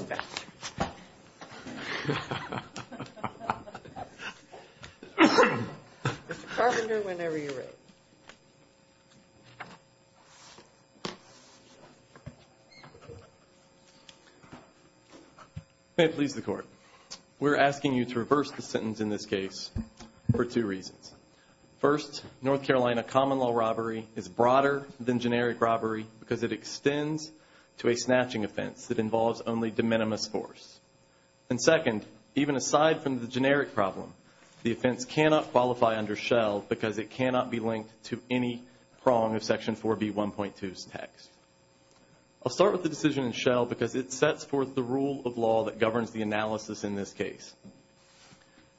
Mr. Carpenter, whenever you're ready. May it please the Court. We're asking you to reverse the sentence in this case for two reasons. First, North Carolina common law robbery is broader than generic robbery because it extends to a snatching offense that involves only de minimis force. And second, even aside from the generic problem, the offense cannot qualify under Shell because it cannot be linked to any prong of Section 4B1.2's text. I'll start with the decision in Shell because it sets forth the rule of law that governs the analysis in this case.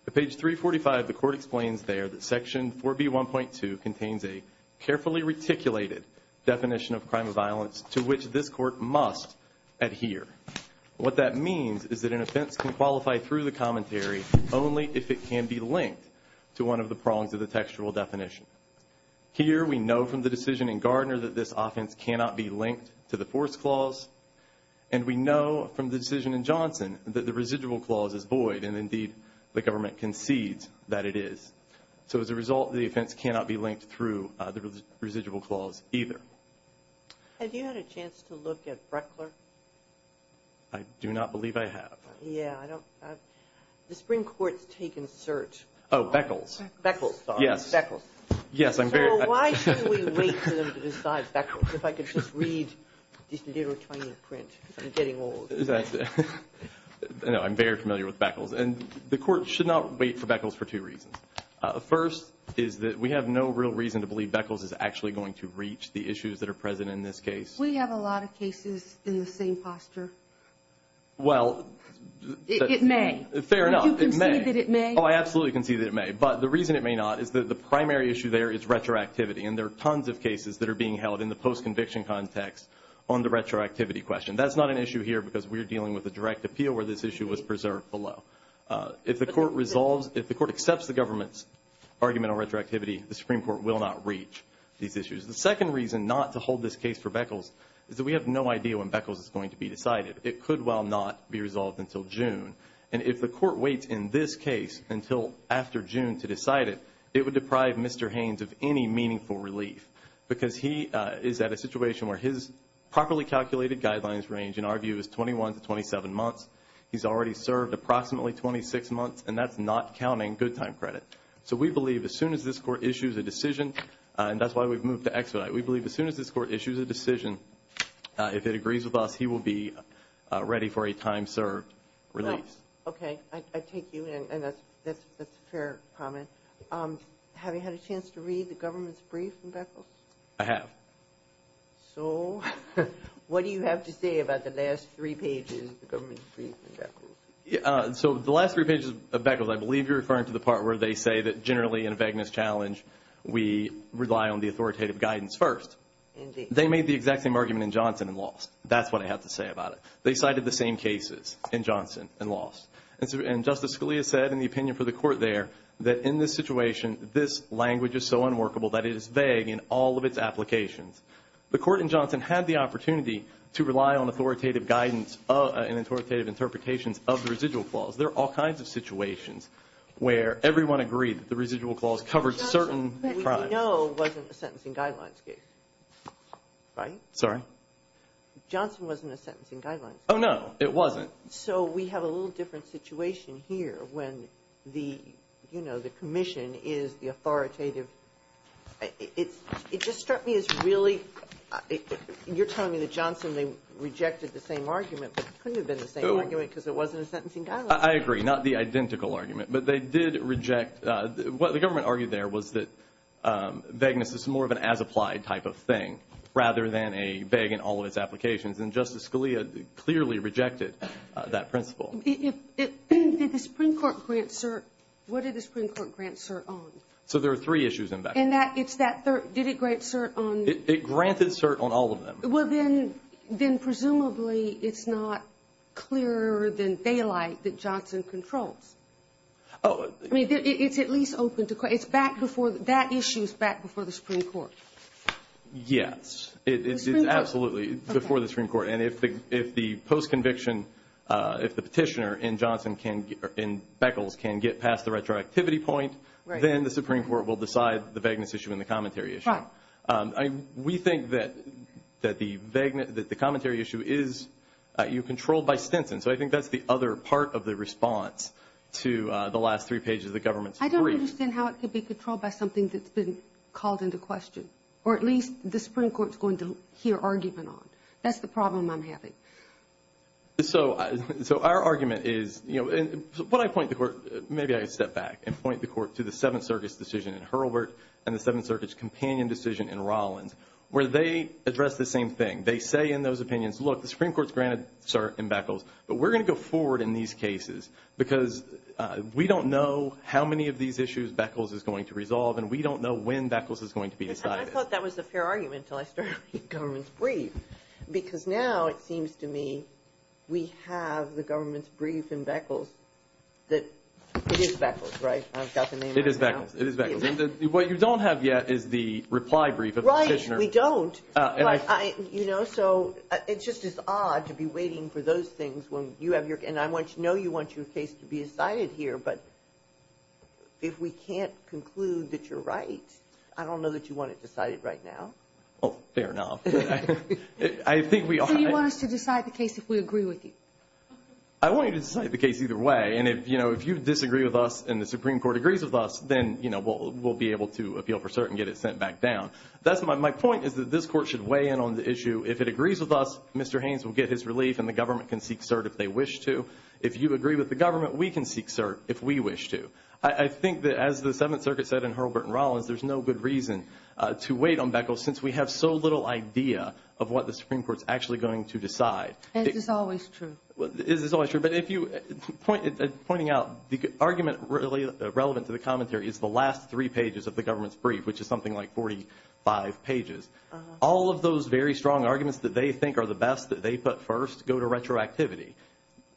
At page 345, the Court explains there that Section 4B1.2 contains a carefully reticulated definition of crime of violence to which this Court must adhere. What that means is that an offense can qualify through the commentary only if it can be linked to one of the prongs of the textual definition. Here we know from the decision in Gardner that this offense cannot be linked to the force clause, and we know from the decision in Johnson that the residual clause is void, and indeed the government concedes that it is. So as a result, the offense cannot be linked through the residual clause either. Have you had a chance to look at Breckler? I do not believe I have. Yeah, I don't. The Supreme Court's taken cert. Oh, Beckles. Beckles, sorry. Yes. Beckles. Yes, I'm very. Well, why should we wait for them to decide Beckles if I could just read this little tiny print because I'm getting old. No, I'm very familiar with Beckles. And the Court should not wait for Beckles for two reasons. First is that we have no real reason to believe Beckles is actually going to reach the issues that are present in this case. We have a lot of cases in the same posture. Well. It may. Fair enough, it may. Do you concede that it may? Oh, I absolutely concede that it may. But the reason it may not is that the primary issue there is retroactivity, and there are tons of cases that are being held in the post-conviction context on the retroactivity question. That's not an issue here because we're dealing with a direct appeal where this issue was preserved below. If the Court accepts the government's argument on retroactivity, the Supreme Court will not reach these issues. The second reason not to hold this case for Beckles is that we have no idea when Beckles is going to be decided. It could well not be resolved until June. And if the Court waits in this case until after June to decide it, it would deprive Mr. Haynes of any meaningful relief because he is at a situation where his properly calculated guidelines range, in our view, is 21 to 27 months. He's already served approximately 26 months, and that's not counting good time credit. So we believe as soon as this Court issues a decision, and that's why we've moved to expedite, we believe as soon as this Court issues a decision, if it agrees with us, he will be ready for a time served release. Okay. I take you in, and that's a fair comment. Have you had a chance to read the government's brief on Beckles? I have. So what do you have to say about the last three pages of the government's brief on Beckles? So the last three pages of Beckles, I believe you're referring to the part where they say that generally in a vagueness challenge we rely on the authoritative guidance first. Indeed. They made the exact same argument in Johnson and Lost. That's what I have to say about it. They cited the same cases in Johnson and Lost. And Justice Scalia said in the opinion for the Court there that in this situation, this language is so unworkable that it is vague in all of its applications. The Court in Johnson had the opportunity to rely on authoritative guidance and authoritative interpretations of the residual clause. There are all kinds of situations where everyone agreed that the residual clause covered certain crimes. But we know it wasn't a sentencing guidelines case, right? Sorry? Johnson wasn't a sentencing guidelines case. Oh, no. It wasn't. So we have a little different situation here when the commission is the authoritative. It just struck me as really you're telling me that Johnson they rejected the same argument but it couldn't have been the same argument because it wasn't a sentencing guideline. I agree. Not the identical argument, but they did reject. What the government argued there was that vagueness is more of an as-applied type of thing rather than a vague in all of its applications. And Justice Scalia clearly rejected that principle. Did the Supreme Court grant cert? What did the Supreme Court grant cert on? So there are three issues in that. Did it grant cert on? It granted cert on all of them. Well, then presumably it's not clearer than daylight that Johnson controls. Oh. I mean, it's at least open to questions. That issue is back before the Supreme Court. Yes. It's absolutely before the Supreme Court. And if the post-conviction, if the petitioner in Beckles can get past the retroactivity point, then the Supreme Court will decide the vagueness issue and the commentary issue. Right. We think that the commentary issue is controlled by Stinson. So I think that's the other part of the response to the last three pages of the government's brief. I don't understand how it could be controlled by something that's been called into question. Or at least the Supreme Court is going to hear argument on. That's the problem I'm having. So our argument is, you know, when I point the court, maybe I could step back and point the court to the Seventh Circuit's decision in Hurlburt and the Seventh Circuit's companion decision in Rollins where they address the same thing. They say in those opinions, look, the Supreme Court's granted cert in Beckles, but we're going to go forward in these cases because we don't know how many of these issues Beckles is going to resolve, and we don't know when Beckles is going to be decided. And I thought that was a fair argument until I started reading the government's brief, because now it seems to me we have the government's brief in Beckles that it is Beckles, right? I've got the name right now. It is Beckles. It is Beckles. What you don't have yet is the reply brief of the petitioner. Right, we don't. You know, so it's just as odd to be waiting for those things when you have your And I know you want your case to be decided here, but if we can't conclude that you're right, I don't know that you want it decided right now. Well, fair enough. So you want us to decide the case if we agree with you? I want you to decide the case either way, and, you know, if you disagree with us and the Supreme Court agrees with us, then, you know, we'll be able to appeal for cert and get it sent back down. My point is that this court should weigh in on the issue. If it agrees with us, Mr. Haynes will get his relief and the government can seek cert if they wish to. If you agree with the government, we can seek cert if we wish to. I think that, as the Seventh Circuit said in Hurlburt and Rollins, there's no good reason to wait on Beckles since we have so little idea of what the Supreme Court is actually going to decide. It is always true. It is always true. But pointing out, the argument relevant to the commentary is the last three pages of the government's brief, which is something like 45 pages. All of those very strong arguments that they think are the best that they put first go to retroactivity.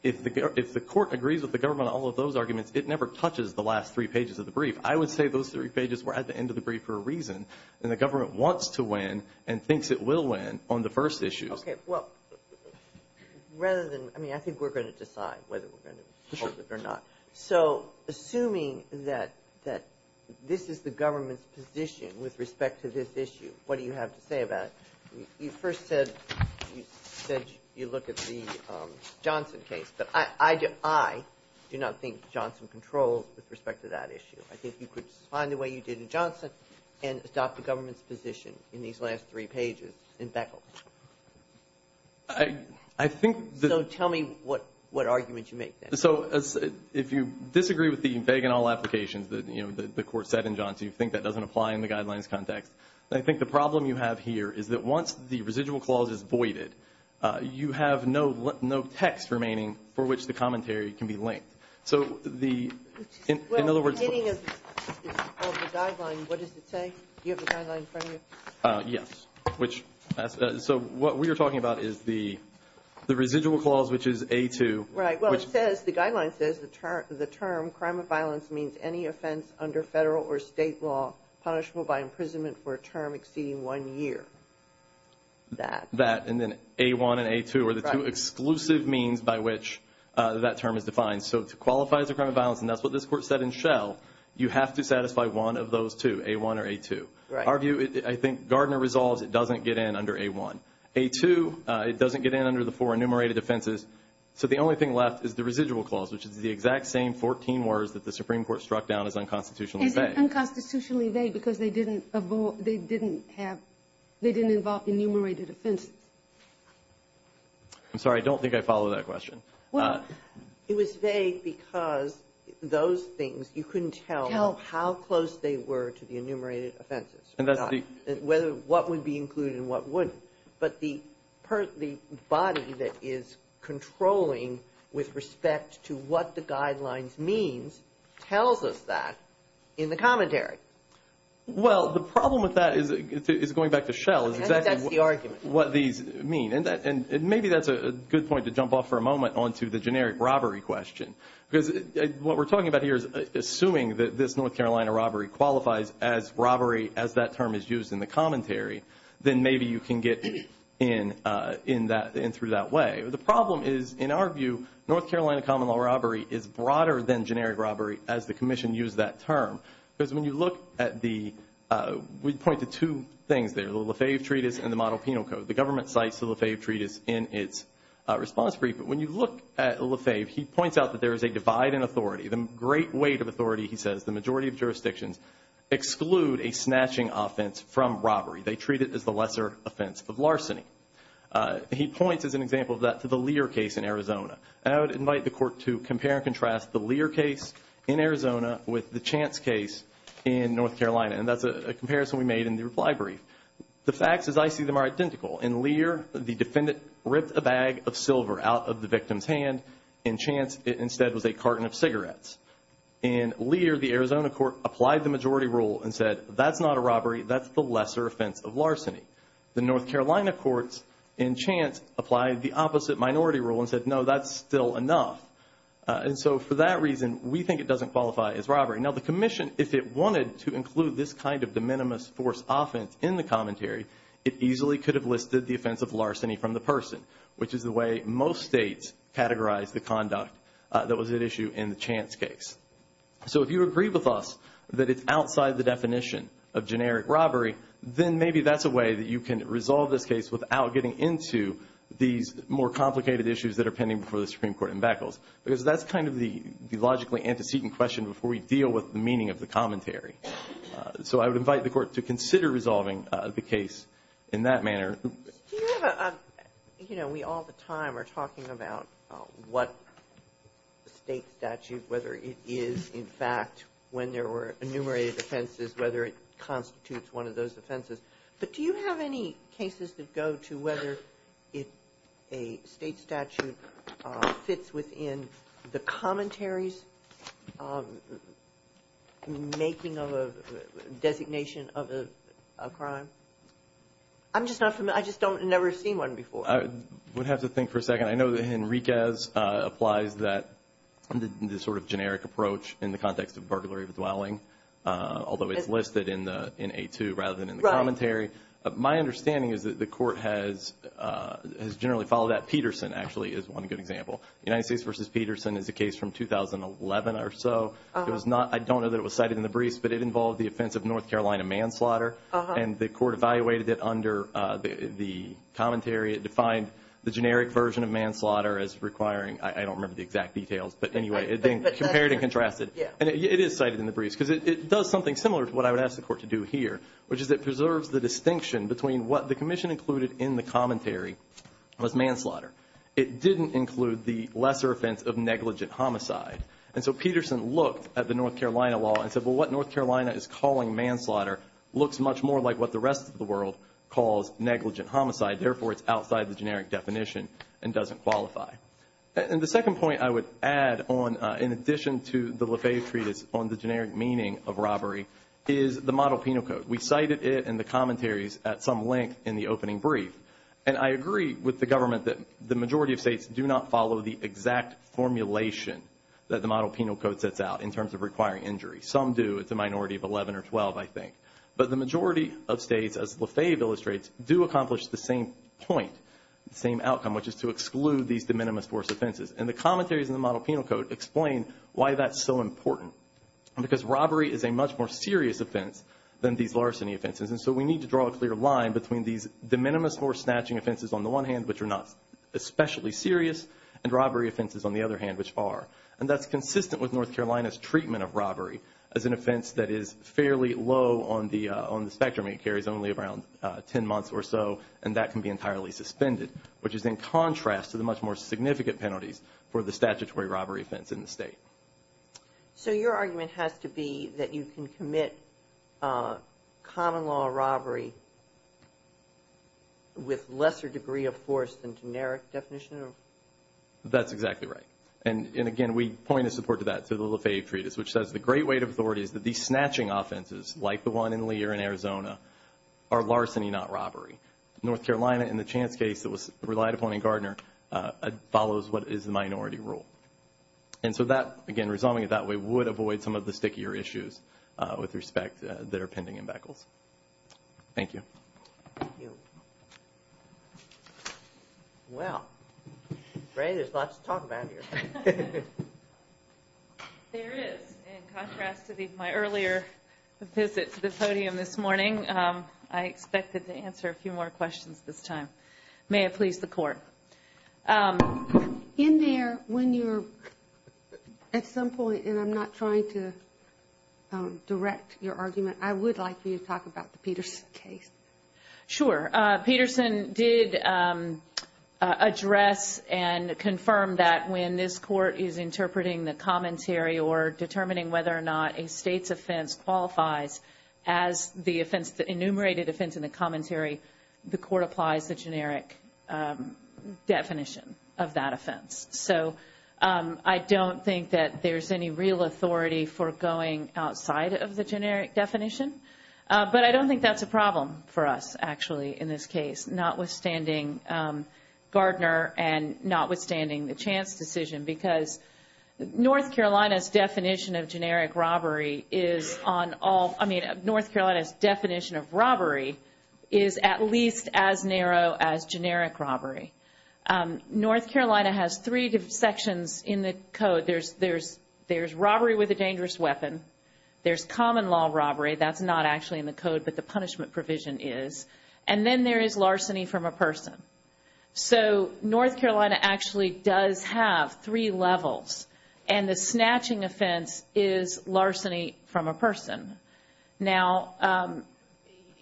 If the court agrees with the government on all of those arguments, it never touches the last three pages of the brief. I would say those three pages were at the end of the brief for a reason, and the government wants to win and thinks it will win on the first issues. Okay. Well, rather than – I mean, I think we're going to decide whether we're going to hold it or not. So assuming that this is the government's position with respect to this issue, what do you have to say about it? You first said you look at the Johnson case. But I do not think Johnson controls with respect to that issue. I think you could find the way you did in Johnson and adopt the government's position in these last three pages in Beckles. I think the – So tell me what argument you make there. So if you disagree with the vague and all applications that, you know, the Court said in Johnson, you think that doesn't apply in the guidelines context, I think the problem you have here is that once the residual clause is voided, you have no text remaining for which the commentary can be linked. So the – Well, the beginning of the guideline, what does it say? Do you have the guideline in front of you? Yes. So what we are talking about is the residual clause, which is A2. Right. Well, it says – the guideline says the term, crime of violence means any offense under federal or state law punishable by imprisonment for a term exceeding one year. That. That. And then A1 and A2 are the two exclusive means by which that term is defined. So to qualify as a crime of violence, and that's what this Court said in Shell, you have to satisfy one of those two, A1 or A2. Right. Our view, I think Gardner resolves it doesn't get in under A1. A2, it doesn't get in under the four enumerated offenses. So the only thing left is the residual clause, which is the exact same 14 words that the Supreme Court struck down as unconstitutionally vague. Is it unconstitutionally vague because they didn't have – they didn't involve enumerated offenses? I'm sorry, I don't think I follow that question. Well, it was vague because those things you couldn't tell how close they were to the enumerated offenses. And that's the – What would be included and what wouldn't. But the body that is controlling with respect to what the guidelines means tells us that in the commentary. Well, the problem with that is going back to Shell. I think that's the argument. What these mean. And maybe that's a good point to jump off for a moment onto the generic robbery question. Because what we're talking about here is assuming that this North Carolina robbery qualifies as robbery as that term is used in the commentary, then maybe you can get in through that way. The problem is, in our view, North Carolina common law robbery is broader than generic robbery as the Commission used that term. Because when you look at the – we point to two things there, the Lefebvre Treatise and the Model Penal Code. The government cites the Lefebvre Treatise in its response brief. But when you look at Lefebvre, he points out that there is a divide in authority. The great weight of authority, he says, the majority of jurisdictions exclude a snatching offense from robbery. They treat it as the lesser offense of larceny. He points, as an example of that, to the Lear case in Arizona. I would invite the Court to compare and contrast the Lear case in Arizona with the Chance case in North Carolina. And that's a comparison we made in the reply brief. The facts, as I see them, are identical. In Lear, the defendant ripped a bag of silver out of the victim's hand. In Chance, it instead was a carton of cigarettes. In Lear, the Arizona court applied the majority rule and said, that's not a robbery. That's the lesser offense of larceny. The North Carolina courts, in Chance, applied the opposite minority rule and said, no, that's still enough. And so for that reason, we think it doesn't qualify as robbery. Now, the Commission, if it wanted to include this kind of de minimis force offense in the commentary, it easily could have listed the offense of larceny from the person, which is the way most states categorize the conduct that was at issue in the Chance case. So if you agree with us that it's outside the definition of generic robbery, then maybe that's a way that you can resolve this case without getting into these more complicated issues that are pending before the Supreme Court in Beckles, because that's kind of the logically antecedent question before we deal with the meaning of the commentary. So I would invite the Court to consider resolving the case in that manner. Do you have a – you know, we all the time are talking about what state statute, whether it is, in fact, when there were enumerated offenses, whether it constitutes one of those offenses. But do you have any cases that go to whether a state statute fits within the commentary's making of a designation of a crime? I'm just not familiar. I just don't – I've never seen one before. I would have to think for a second. I know that Henriquez applies that sort of generic approach in the context of burglary of a dwelling, although it's listed in A2 rather than in the commentary. Right. My understanding is that the Court has generally followed that. Peterson, actually, is one good example. United States v. Peterson is a case from 2011 or so. It was not – I don't know that it was cited in the briefs, but it involved the offense of North Carolina manslaughter. And the Court evaluated it under the commentary. It defined the generic version of manslaughter as requiring – I don't remember the exact details, but anyway. But that's true. Compared and contrasted. And it is cited in the briefs because it does something similar to what I would ask the Court to do here, which is it preserves the distinction between what the Commission included in the commentary was manslaughter. It didn't include the lesser offense of negligent homicide. And so Peterson looked at the North Carolina law and said, well, what North Carolina is calling manslaughter looks much more like what the rest of the world calls negligent homicide. Therefore, it's outside the generic definition and doesn't qualify. And the second point I would add on, in addition to the LaFave Treatise, on the generic meaning of robbery is the model penal code. We cited it in the commentaries at some length in the opening brief. And I agree with the government that the majority of states do not follow the exact formulation that the model penal code sets out in terms of requiring injury. Some do. It's a minority of 11 or 12, I think. But the majority of states, as LaFave illustrates, do accomplish the same point, the same outcome, which is to exclude these de minimis force offenses. And the commentaries in the model penal code explain why that's so important. Because robbery is a much more serious offense than these larceny offenses. And so we need to draw a clear line between these de minimis force snatching offenses on the one hand, which are not especially serious, and robbery offenses on the other hand, which are. And that's consistent with North Carolina's treatment of robbery as an offense that is fairly low on the spectrum. It carries only around 10 months or so, and that can be entirely suspended, which is in contrast to the much more significant penalties for the statutory robbery offense in the state. So your argument has to be that you can commit common law robbery with lesser degree of force than generic definition? That's exactly right. And, again, we point of support to that through the LaFave Treatise, which says the great weight of authority is that these snatching offenses, like the one in Lear in Arizona, are larceny, not robbery. North Carolina, in the chance case that was relied upon in Gardner, follows what is the minority rule. And so that, again, resolving it that way would avoid some of the stickier issues with respect that are pending in Beckles. Thank you. Thank you. Well, Ray, there's lots to talk about here. There is. In contrast to my earlier visit to the podium this morning, I expected to answer a few more questions this time. May it please the Court. In there, when you're at some point, and I'm not trying to direct your argument, I would like for you to talk about the Peterson case. Sure. Peterson did address and confirm that when this Court is interpreting the commentary or determining whether or not a state's offense qualifies as the offense, the enumerated offense in the commentary, the Court applies the generic definition of that offense. So I don't think that there's any real authority for going outside of the generic definition. But I don't think that's a problem for us, actually, in this case, notwithstanding Gardner and notwithstanding the chance decision, because North Carolina's definition of generic robbery is on all, I mean, North Carolina's definition of robbery is at least as narrow as generic robbery. North Carolina has three sections in the code. There's robbery with a dangerous weapon. There's common law robbery. That's not actually in the code, but the punishment provision is. And then there is larceny from a person. So North Carolina actually does have three levels, and the snatching offense is larceny from a person. And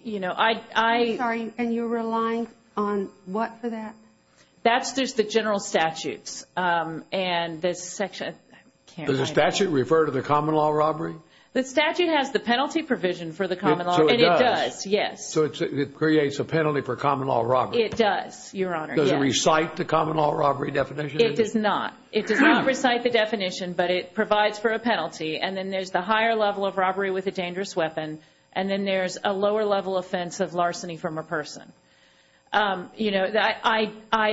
you're relying on what for that? That's just the general statutes. Does the statute refer to the common law robbery? The statute has the penalty provision for the common law, and it does, yes. So it creates a penalty for common law robbery. It does, Your Honor, yes. Does it recite the common law robbery definition? It does not. It does not recite the definition, but it provides for a penalty. And then there's the higher level of robbery with a dangerous weapon, and then there's a lower level offense of larceny from a person. I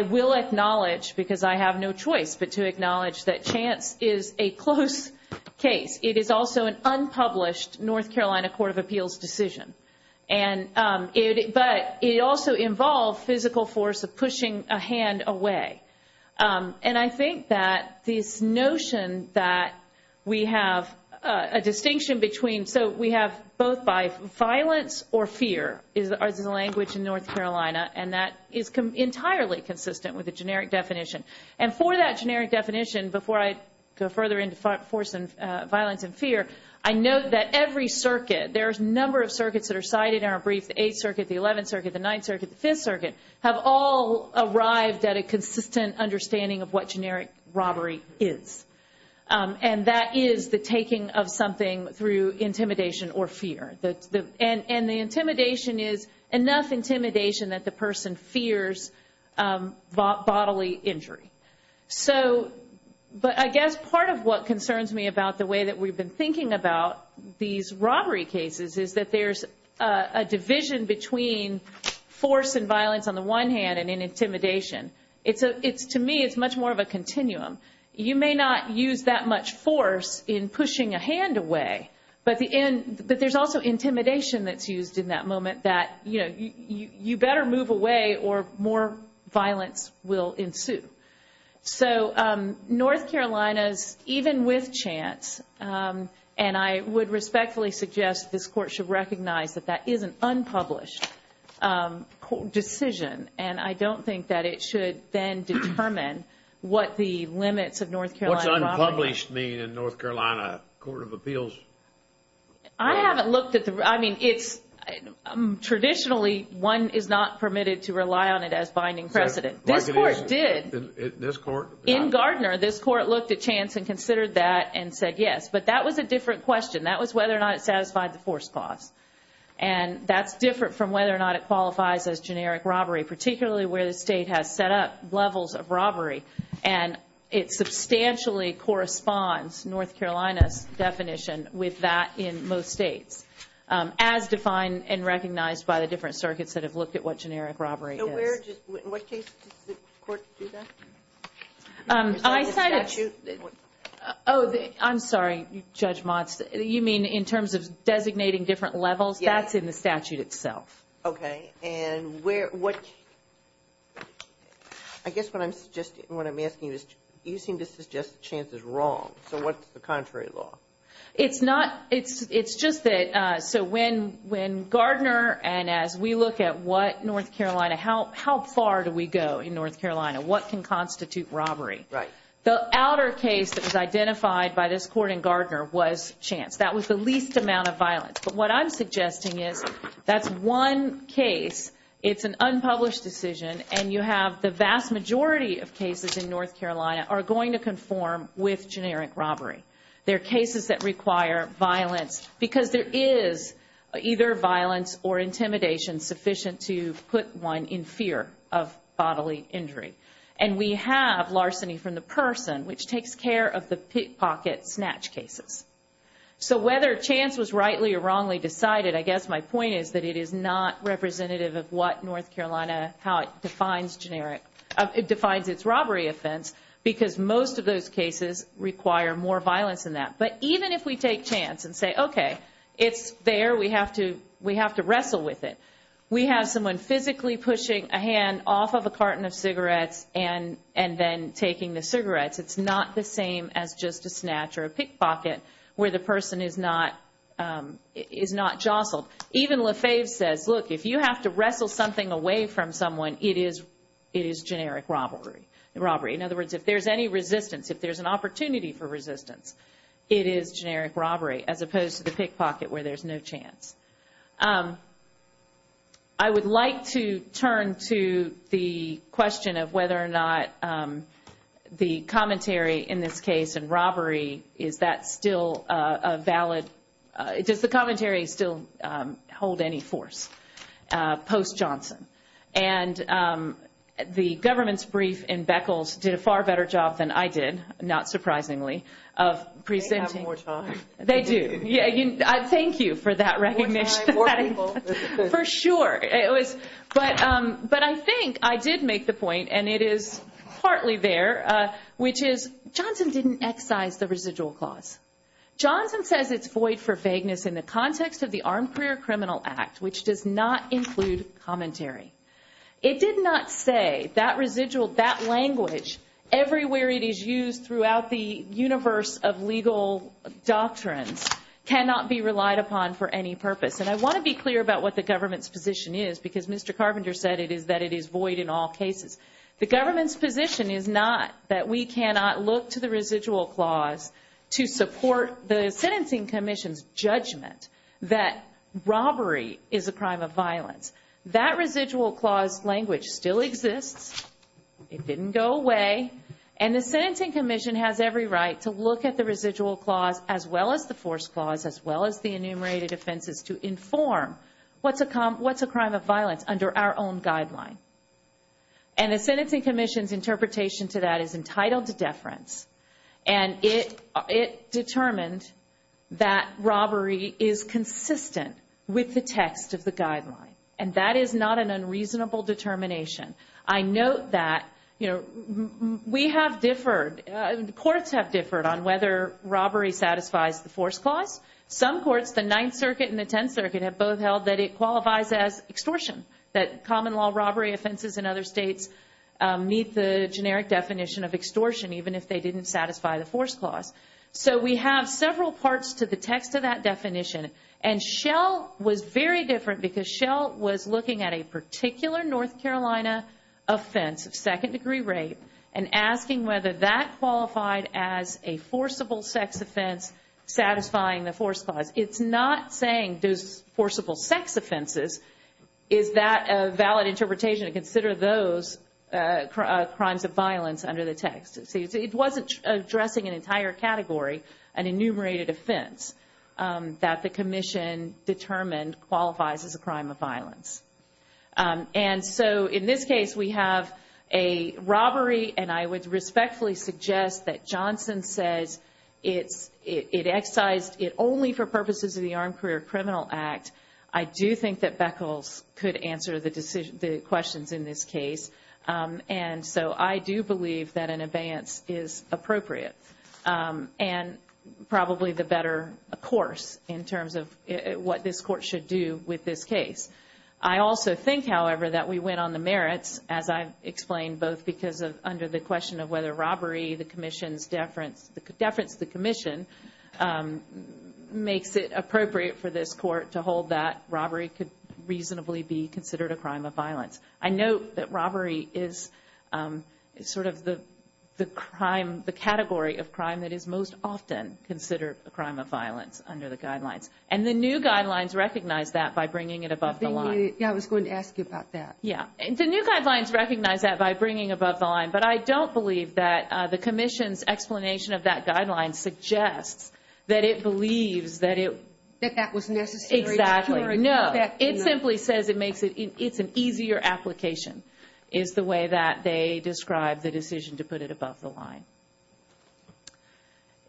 will acknowledge, because I have no choice but to acknowledge that chance is a close case. It is also an unpublished North Carolina Court of Appeals decision. But it also involved physical force of pushing a hand away. And I think that this notion that we have a distinction between so we have both by violence or fear is the language in North Carolina, and that is entirely consistent with the generic definition. And for that generic definition, before I go further into force and violence and fear, I note that every circuit, there's a number of circuits that are cited in our brief, the 8th Circuit, the 11th Circuit, the 9th Circuit, the 5th Circuit, have all arrived at a consistent understanding of what generic robbery is. And that is the taking of something through intimidation or fear. And the intimidation is enough intimidation that the person fears bodily injury. But I guess part of what concerns me about the way that we've been thinking about these robbery cases is that there's a division between force and violence on the one hand and intimidation. To me, it's much more of a continuum. You may not use that much force in pushing a hand away, but there's also intimidation that's used in that moment that, you know, you better move away or more violence will ensue. So North Carolina's, even with chance, and I would respectfully suggest this Court should recognize that that is an unpublished decision, and I don't think that it should then determine what the limits of North Carolina robbery are. What's unpublished mean in North Carolina Court of Appeals? I haven't looked at the, I mean, it's traditionally one is not permitted to rely on it as binding precedent. This Court did. This Court? In Gardner, this Court looked at chance and considered that and said yes. But that was a different question. That was whether or not it satisfied the force clause. And that's different from whether or not it qualifies as generic robbery, particularly where the state has set up levels of robbery. And it substantially corresponds, North Carolina's definition, with that in most states, as defined and recognized by the different circuits that have looked at what generic robbery is. So where, in what cases does the Court do that? I said it. Oh, I'm sorry, Judge Motz. You mean in terms of designating different levels? Yes. That's in the statute itself. Okay. And where, what, I guess what I'm asking you is you seem to suggest chance is wrong. So what's the contrary law? It's not, it's just that, so when Gardner and as we look at what North Carolina, how far do we go in North Carolina? What can constitute robbery? Right. The outer case that was identified by this Court in Gardner was chance. That was the least amount of violence. But what I'm suggesting is that's one case, it's an unpublished decision, and you have the vast majority of cases in North Carolina are going to conform with generic robbery. They're cases that require violence because there is either violence or intimidation sufficient to put one in fear of bodily injury. And we have larceny from the person, which takes care of the pickpocket snatch cases. So whether chance was rightly or wrongly decided, I guess my point is that it is not representative of what North Carolina, how it defines generic. It defines its robbery offense because most of those cases require more violence than that. But even if we take chance and say, okay, it's there, we have to wrestle with it. We have someone physically pushing a hand off of a carton of cigarettes and then taking the cigarettes. It's not the same as just a snatch or a pickpocket where the person is not jostled. Even Lefebvre says, look, if you have to wrestle something away from someone, it is generic robbery. In other words, if there's any resistance, if there's an opportunity for resistance, it is generic robbery as opposed to the pickpocket where there's no chance. I would like to turn to the question of whether or not the commentary in this case in robbery, is that still a valid, does the commentary still hold any force post Johnson? And the government's brief in Beckles did a far better job than I did, not surprisingly, of presenting. They have more time. They do. Thank you for that recognition. More time, more people. For sure. But I think I did make the point, and it is partly there, which is Johnson didn't excise the residual clause. Johnson says it's void for vagueness in the context of the Armed Career Criminal Act, which does not include commentary. It did not say that residual, that language, everywhere it is used throughout the universe of legal doctrines, cannot be relied upon for any purpose. And I want to be clear about what the government's position is, because Mr. Carpenter said it is that it is void in all cases. The government's position is not that we cannot look to the residual clause to support the sentencing commission's judgment that robbery is a crime of violence. That residual clause language still exists. It didn't go away. And the sentencing commission has every right to look at the residual clause, as well as the force clause, as well as the enumerated offenses to inform what's a crime of violence under our own guideline. And the sentencing commission's interpretation to that is entitled to deference. And it determined that robbery is consistent with the text of the guideline. And that is not an unreasonable determination. I note that courts have differed on whether robbery satisfies the force clause. Some courts, the Ninth Circuit and the Tenth Circuit, have both held that it qualifies as extortion, that common law robbery offenses in other states meet the generic definition of extortion, even if they didn't satisfy the force clause. And Shell was very different because Shell was looking at a particular North Carolina offense of second-degree rape and asking whether that qualified as a forcible sex offense satisfying the force clause. It's not saying those forcible sex offenses, is that a valid interpretation to consider those crimes of violence under the text. It wasn't addressing an entire category, an enumerated offense, that the commission determined qualifies as a crime of violence. And so in this case, we have a robbery, and I would respectfully suggest that Johnson says it excised it only for purposes of the Armed Career Criminal Act. I do think that Beckles could answer the questions in this case. And so I do believe that an abeyance is appropriate and probably the better course in terms of what this court should do with this case. I also think, however, that we went on the merits, as I've explained, both because of under the question of whether robbery, the commission's deference, the deference of the commission makes it appropriate for this court to hold that robbery could reasonably be considered a crime of violence. I note that robbery is sort of the crime, the category of crime that is most often considered a crime of violence under the guidelines. And the new guidelines recognize that by bringing it above the line. Yeah, I was going to ask you about that. Yeah, and the new guidelines recognize that by bringing above the line, but I don't believe that the commission's explanation of that guideline suggests that it believes that it. That that was necessary. Exactly. No, it simply says it makes it it's an easier application is the way that they describe the decision to put it above the line.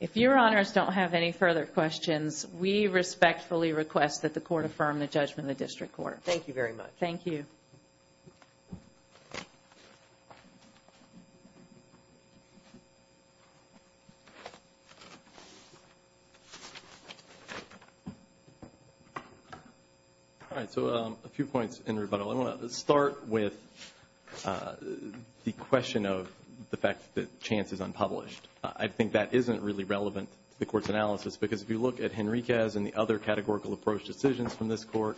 If your honors don't have any further questions, we respectfully request that the court affirm the judgment of the district court. Thank you very much. Thank you. All right. So a few points in rebuttal. I want to start with the question of the fact that chance is unpublished. I think that isn't really relevant to the court's analysis, because if you look at Henriquez and the other categorical approach decisions from this court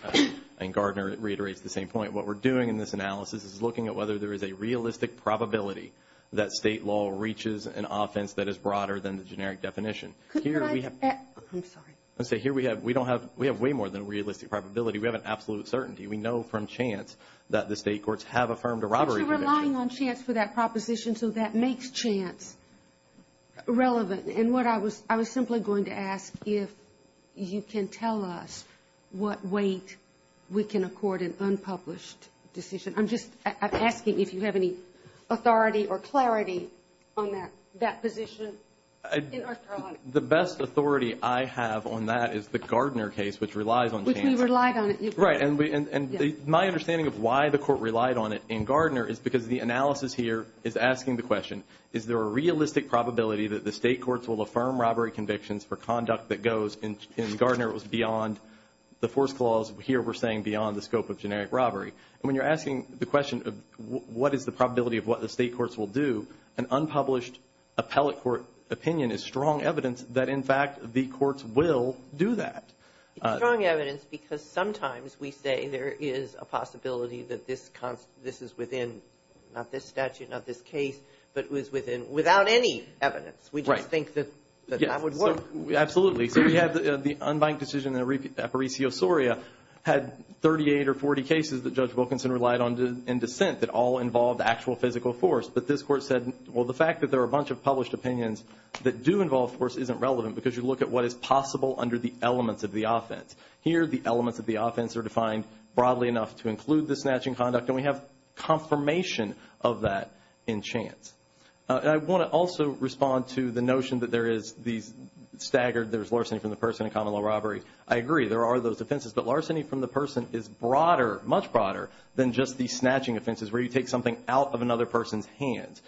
and Gardner reiterates the same point, what we're doing in this analysis is looking at whether there is a realistic probability that state law reaches an offense that is broader than the generic definition. I'm sorry. Let's say here we have we don't have we have way more than realistic probability. We have an absolute certainty. We know from chance that the state courts have affirmed a robbery. We're relying on chance for that proposition. So that makes chance relevant. And what I was I was simply going to ask if you can tell us what weight we can accord an unpublished decision. I'm just asking if you have any authority or clarity on that position. The best authority I have on that is the Gardner case, which relies on chance. Which we relied on. Right. And my understanding of why the court relied on it in Gardner is because the analysis here is asking the question, is there a realistic probability that the state courts will affirm robbery convictions for conduct that goes in Gardner was beyond the force clause. Here we're saying beyond the scope of generic robbery. And when you're asking the question of what is the probability of what the state courts will do, an unpublished appellate court opinion is strong evidence that, in fact, the courts will do that. Strong evidence because sometimes we say there is a possibility that this this is within not this statute, not this case. But it was within without any evidence. We think that that would work. Absolutely. So we have the unbanked decision in Aparicio Soria had 38 or 40 cases that Judge Wilkinson relied on in dissent that all involved actual physical force. But this court said, well, the fact that there are a bunch of published opinions that do involve force isn't relevant because you look at what is possible under the elements of the offense. Here the elements of the offense are defined broadly enough to include the snatching conduct, and we have confirmation of that in chance. I want to also respond to the notion that there is these staggered, there's larceny from the person in common law robbery. I agree there are those offenses, but larceny from the person is broader, much broader than just the snatching offenses where you take something out of another person's hand.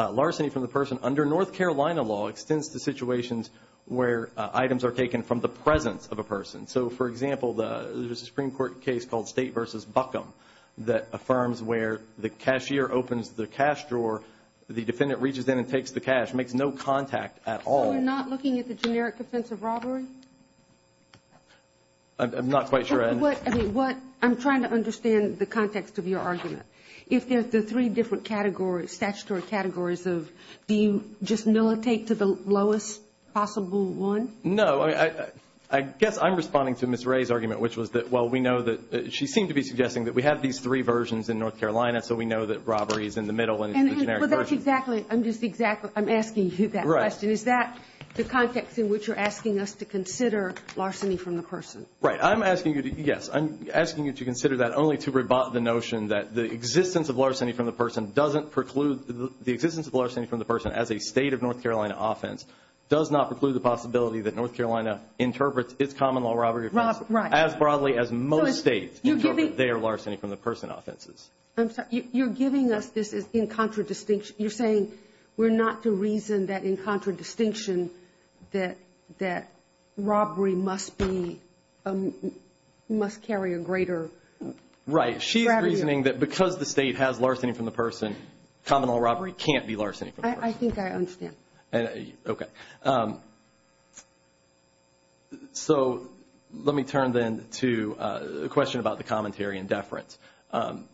Larceny from the person under North Carolina law extends to situations where items are taken from the presence of a person. So, for example, there's a Supreme Court case called State v. Buckham that affirms where the cashier opens the cash drawer or the defendant reaches in and takes the cash, makes no contact at all. So you're not looking at the generic offense of robbery? I'm not quite sure I am. I'm trying to understand the context of your argument. If there are three different categories, statutory categories, do you just militate to the lowest possible one? No. I guess I'm responding to Ms. Ray's argument, which was that, well, we know that she seemed to be suggesting that we have these three versions in North Carolina so we know that robbery is in the middle and it's the generic version. I'm asking you that question. Is that the context in which you're asking us to consider larceny from the person? Right. I'm asking you to consider that only to rebut the notion that the existence of larceny from the person doesn't preclude the existence of larceny from the person as a State of North Carolina offense does not preclude the possibility that I'm sorry. You're giving us this in contradistinction. You're saying we're not to reason that in contradistinction that robbery must carry a greater strategy. Right. She's reasoning that because the State has larceny from the person, common law robbery can't be larceny from the person. I think I understand. Okay. So let me turn then to a question about the commentary and deference. And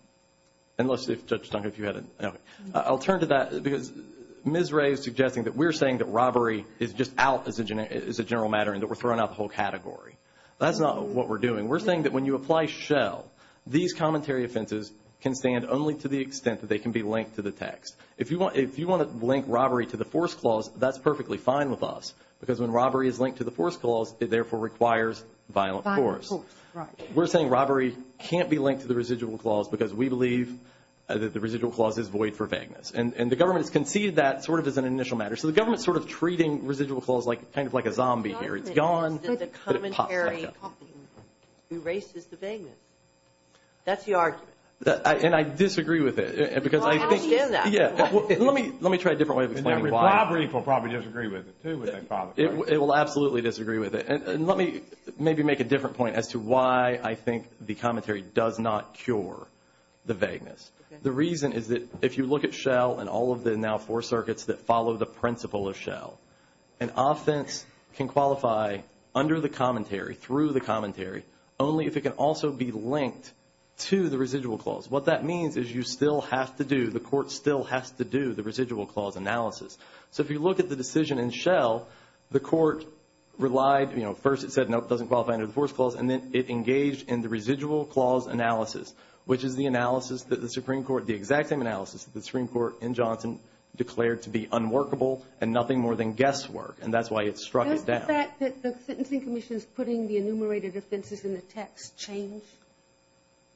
let's see if, Judge Stunk, if you had a, okay. I'll turn to that because Ms. Ray is suggesting that we're saying that robbery is just out as a general matter and that we're throwing out the whole category. That's not what we're doing. We're saying that when you apply shell, these commentary offenses can stand only to the extent that they can be linked to the text. If you want to link robbery to the force clause, that's perfectly fine with us because when robbery is linked to the force clause, it therefore requires violent force. Right. We're saying robbery can't be linked to the residual clause because we believe that the residual clause is void for vagueness. And the government has conceded that sort of as an initial matter. So the government is sort of treating residual clause kind of like a zombie here. It's gone. The commentary erases the vagueness. That's the argument. And I disagree with it because I think. Let me try a different way of explaining why. Robbery will probably disagree with it too. It will absolutely disagree with it. And let me maybe make a different point as to why I think the commentary does not cure the vagueness. The reason is that if you look at shell and all of the now four circuits that follow the principle of shell, an offense can qualify under the commentary, through the commentary, only if it can also be linked to the residual clause. What that means is you still have to do, the court still has to do the residual clause analysis. So if you look at the decision in shell, the court relied, you know, first it said, no, it doesn't qualify under the force clause, and then it engaged in the residual clause analysis, which is the analysis that the Supreme Court, the exact same analysis that the Supreme Court in Johnson declared to be unworkable and nothing more than guesswork. And that's why it struck it down. Does the fact that the Sentencing Commission is putting the enumerated offenses in the text change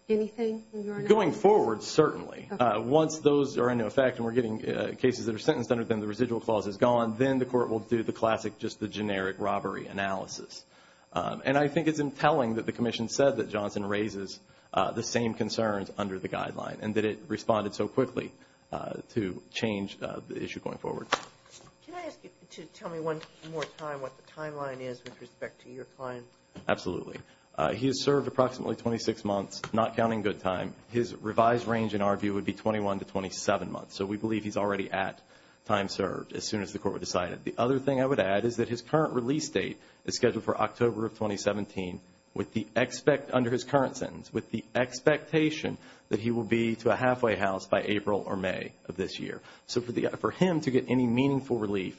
anything? Going forward, certainly. Once those are in effect and we're getting cases that are sentenced under them, the residual clause is gone, then the court will do the classic, just the generic robbery analysis. And I think it's entailing that the commission said that Johnson raises the same concerns under the guideline and that it responded so quickly to change the issue going forward. Can I ask you to tell me one more time what the timeline is with respect to your client? Absolutely. He has served approximately 26 months, not counting good time. His revised range, in our view, would be 21 to 27 months. So we believe he's already at time served as soon as the court would decide it. The other thing I would add is that his current release date is scheduled for October of 2017 under his current sentence with the expectation that he will be to a halfway house by April or May of this year. So for him to get any meaningful relief,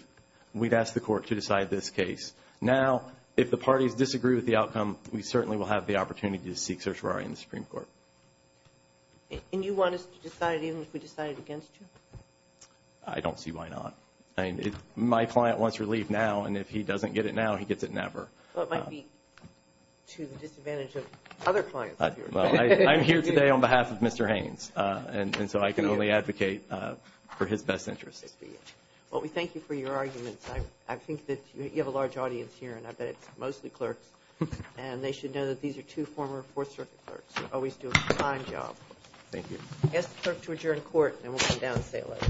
we'd ask the court to decide this case. Now, if the parties disagree with the outcome, we certainly will have the opportunity to seek certiorari in the Supreme Court. And you want us to decide even if we decide it against you? I don't see why not. My client wants relief now, and if he doesn't get it now, he gets it never. Well, it might be to the disadvantage of other clients. I'm here today on behalf of Mr. Haynes, and so I can only advocate for his best interests. Well, we thank you for your arguments. I think that you have a large audience here, and I bet it's mostly clerks, and they should know that these are two former Fourth Circuit clerks who always do a fine job. Thank you. I ask the clerk to adjourn court, and we'll come down and say it later.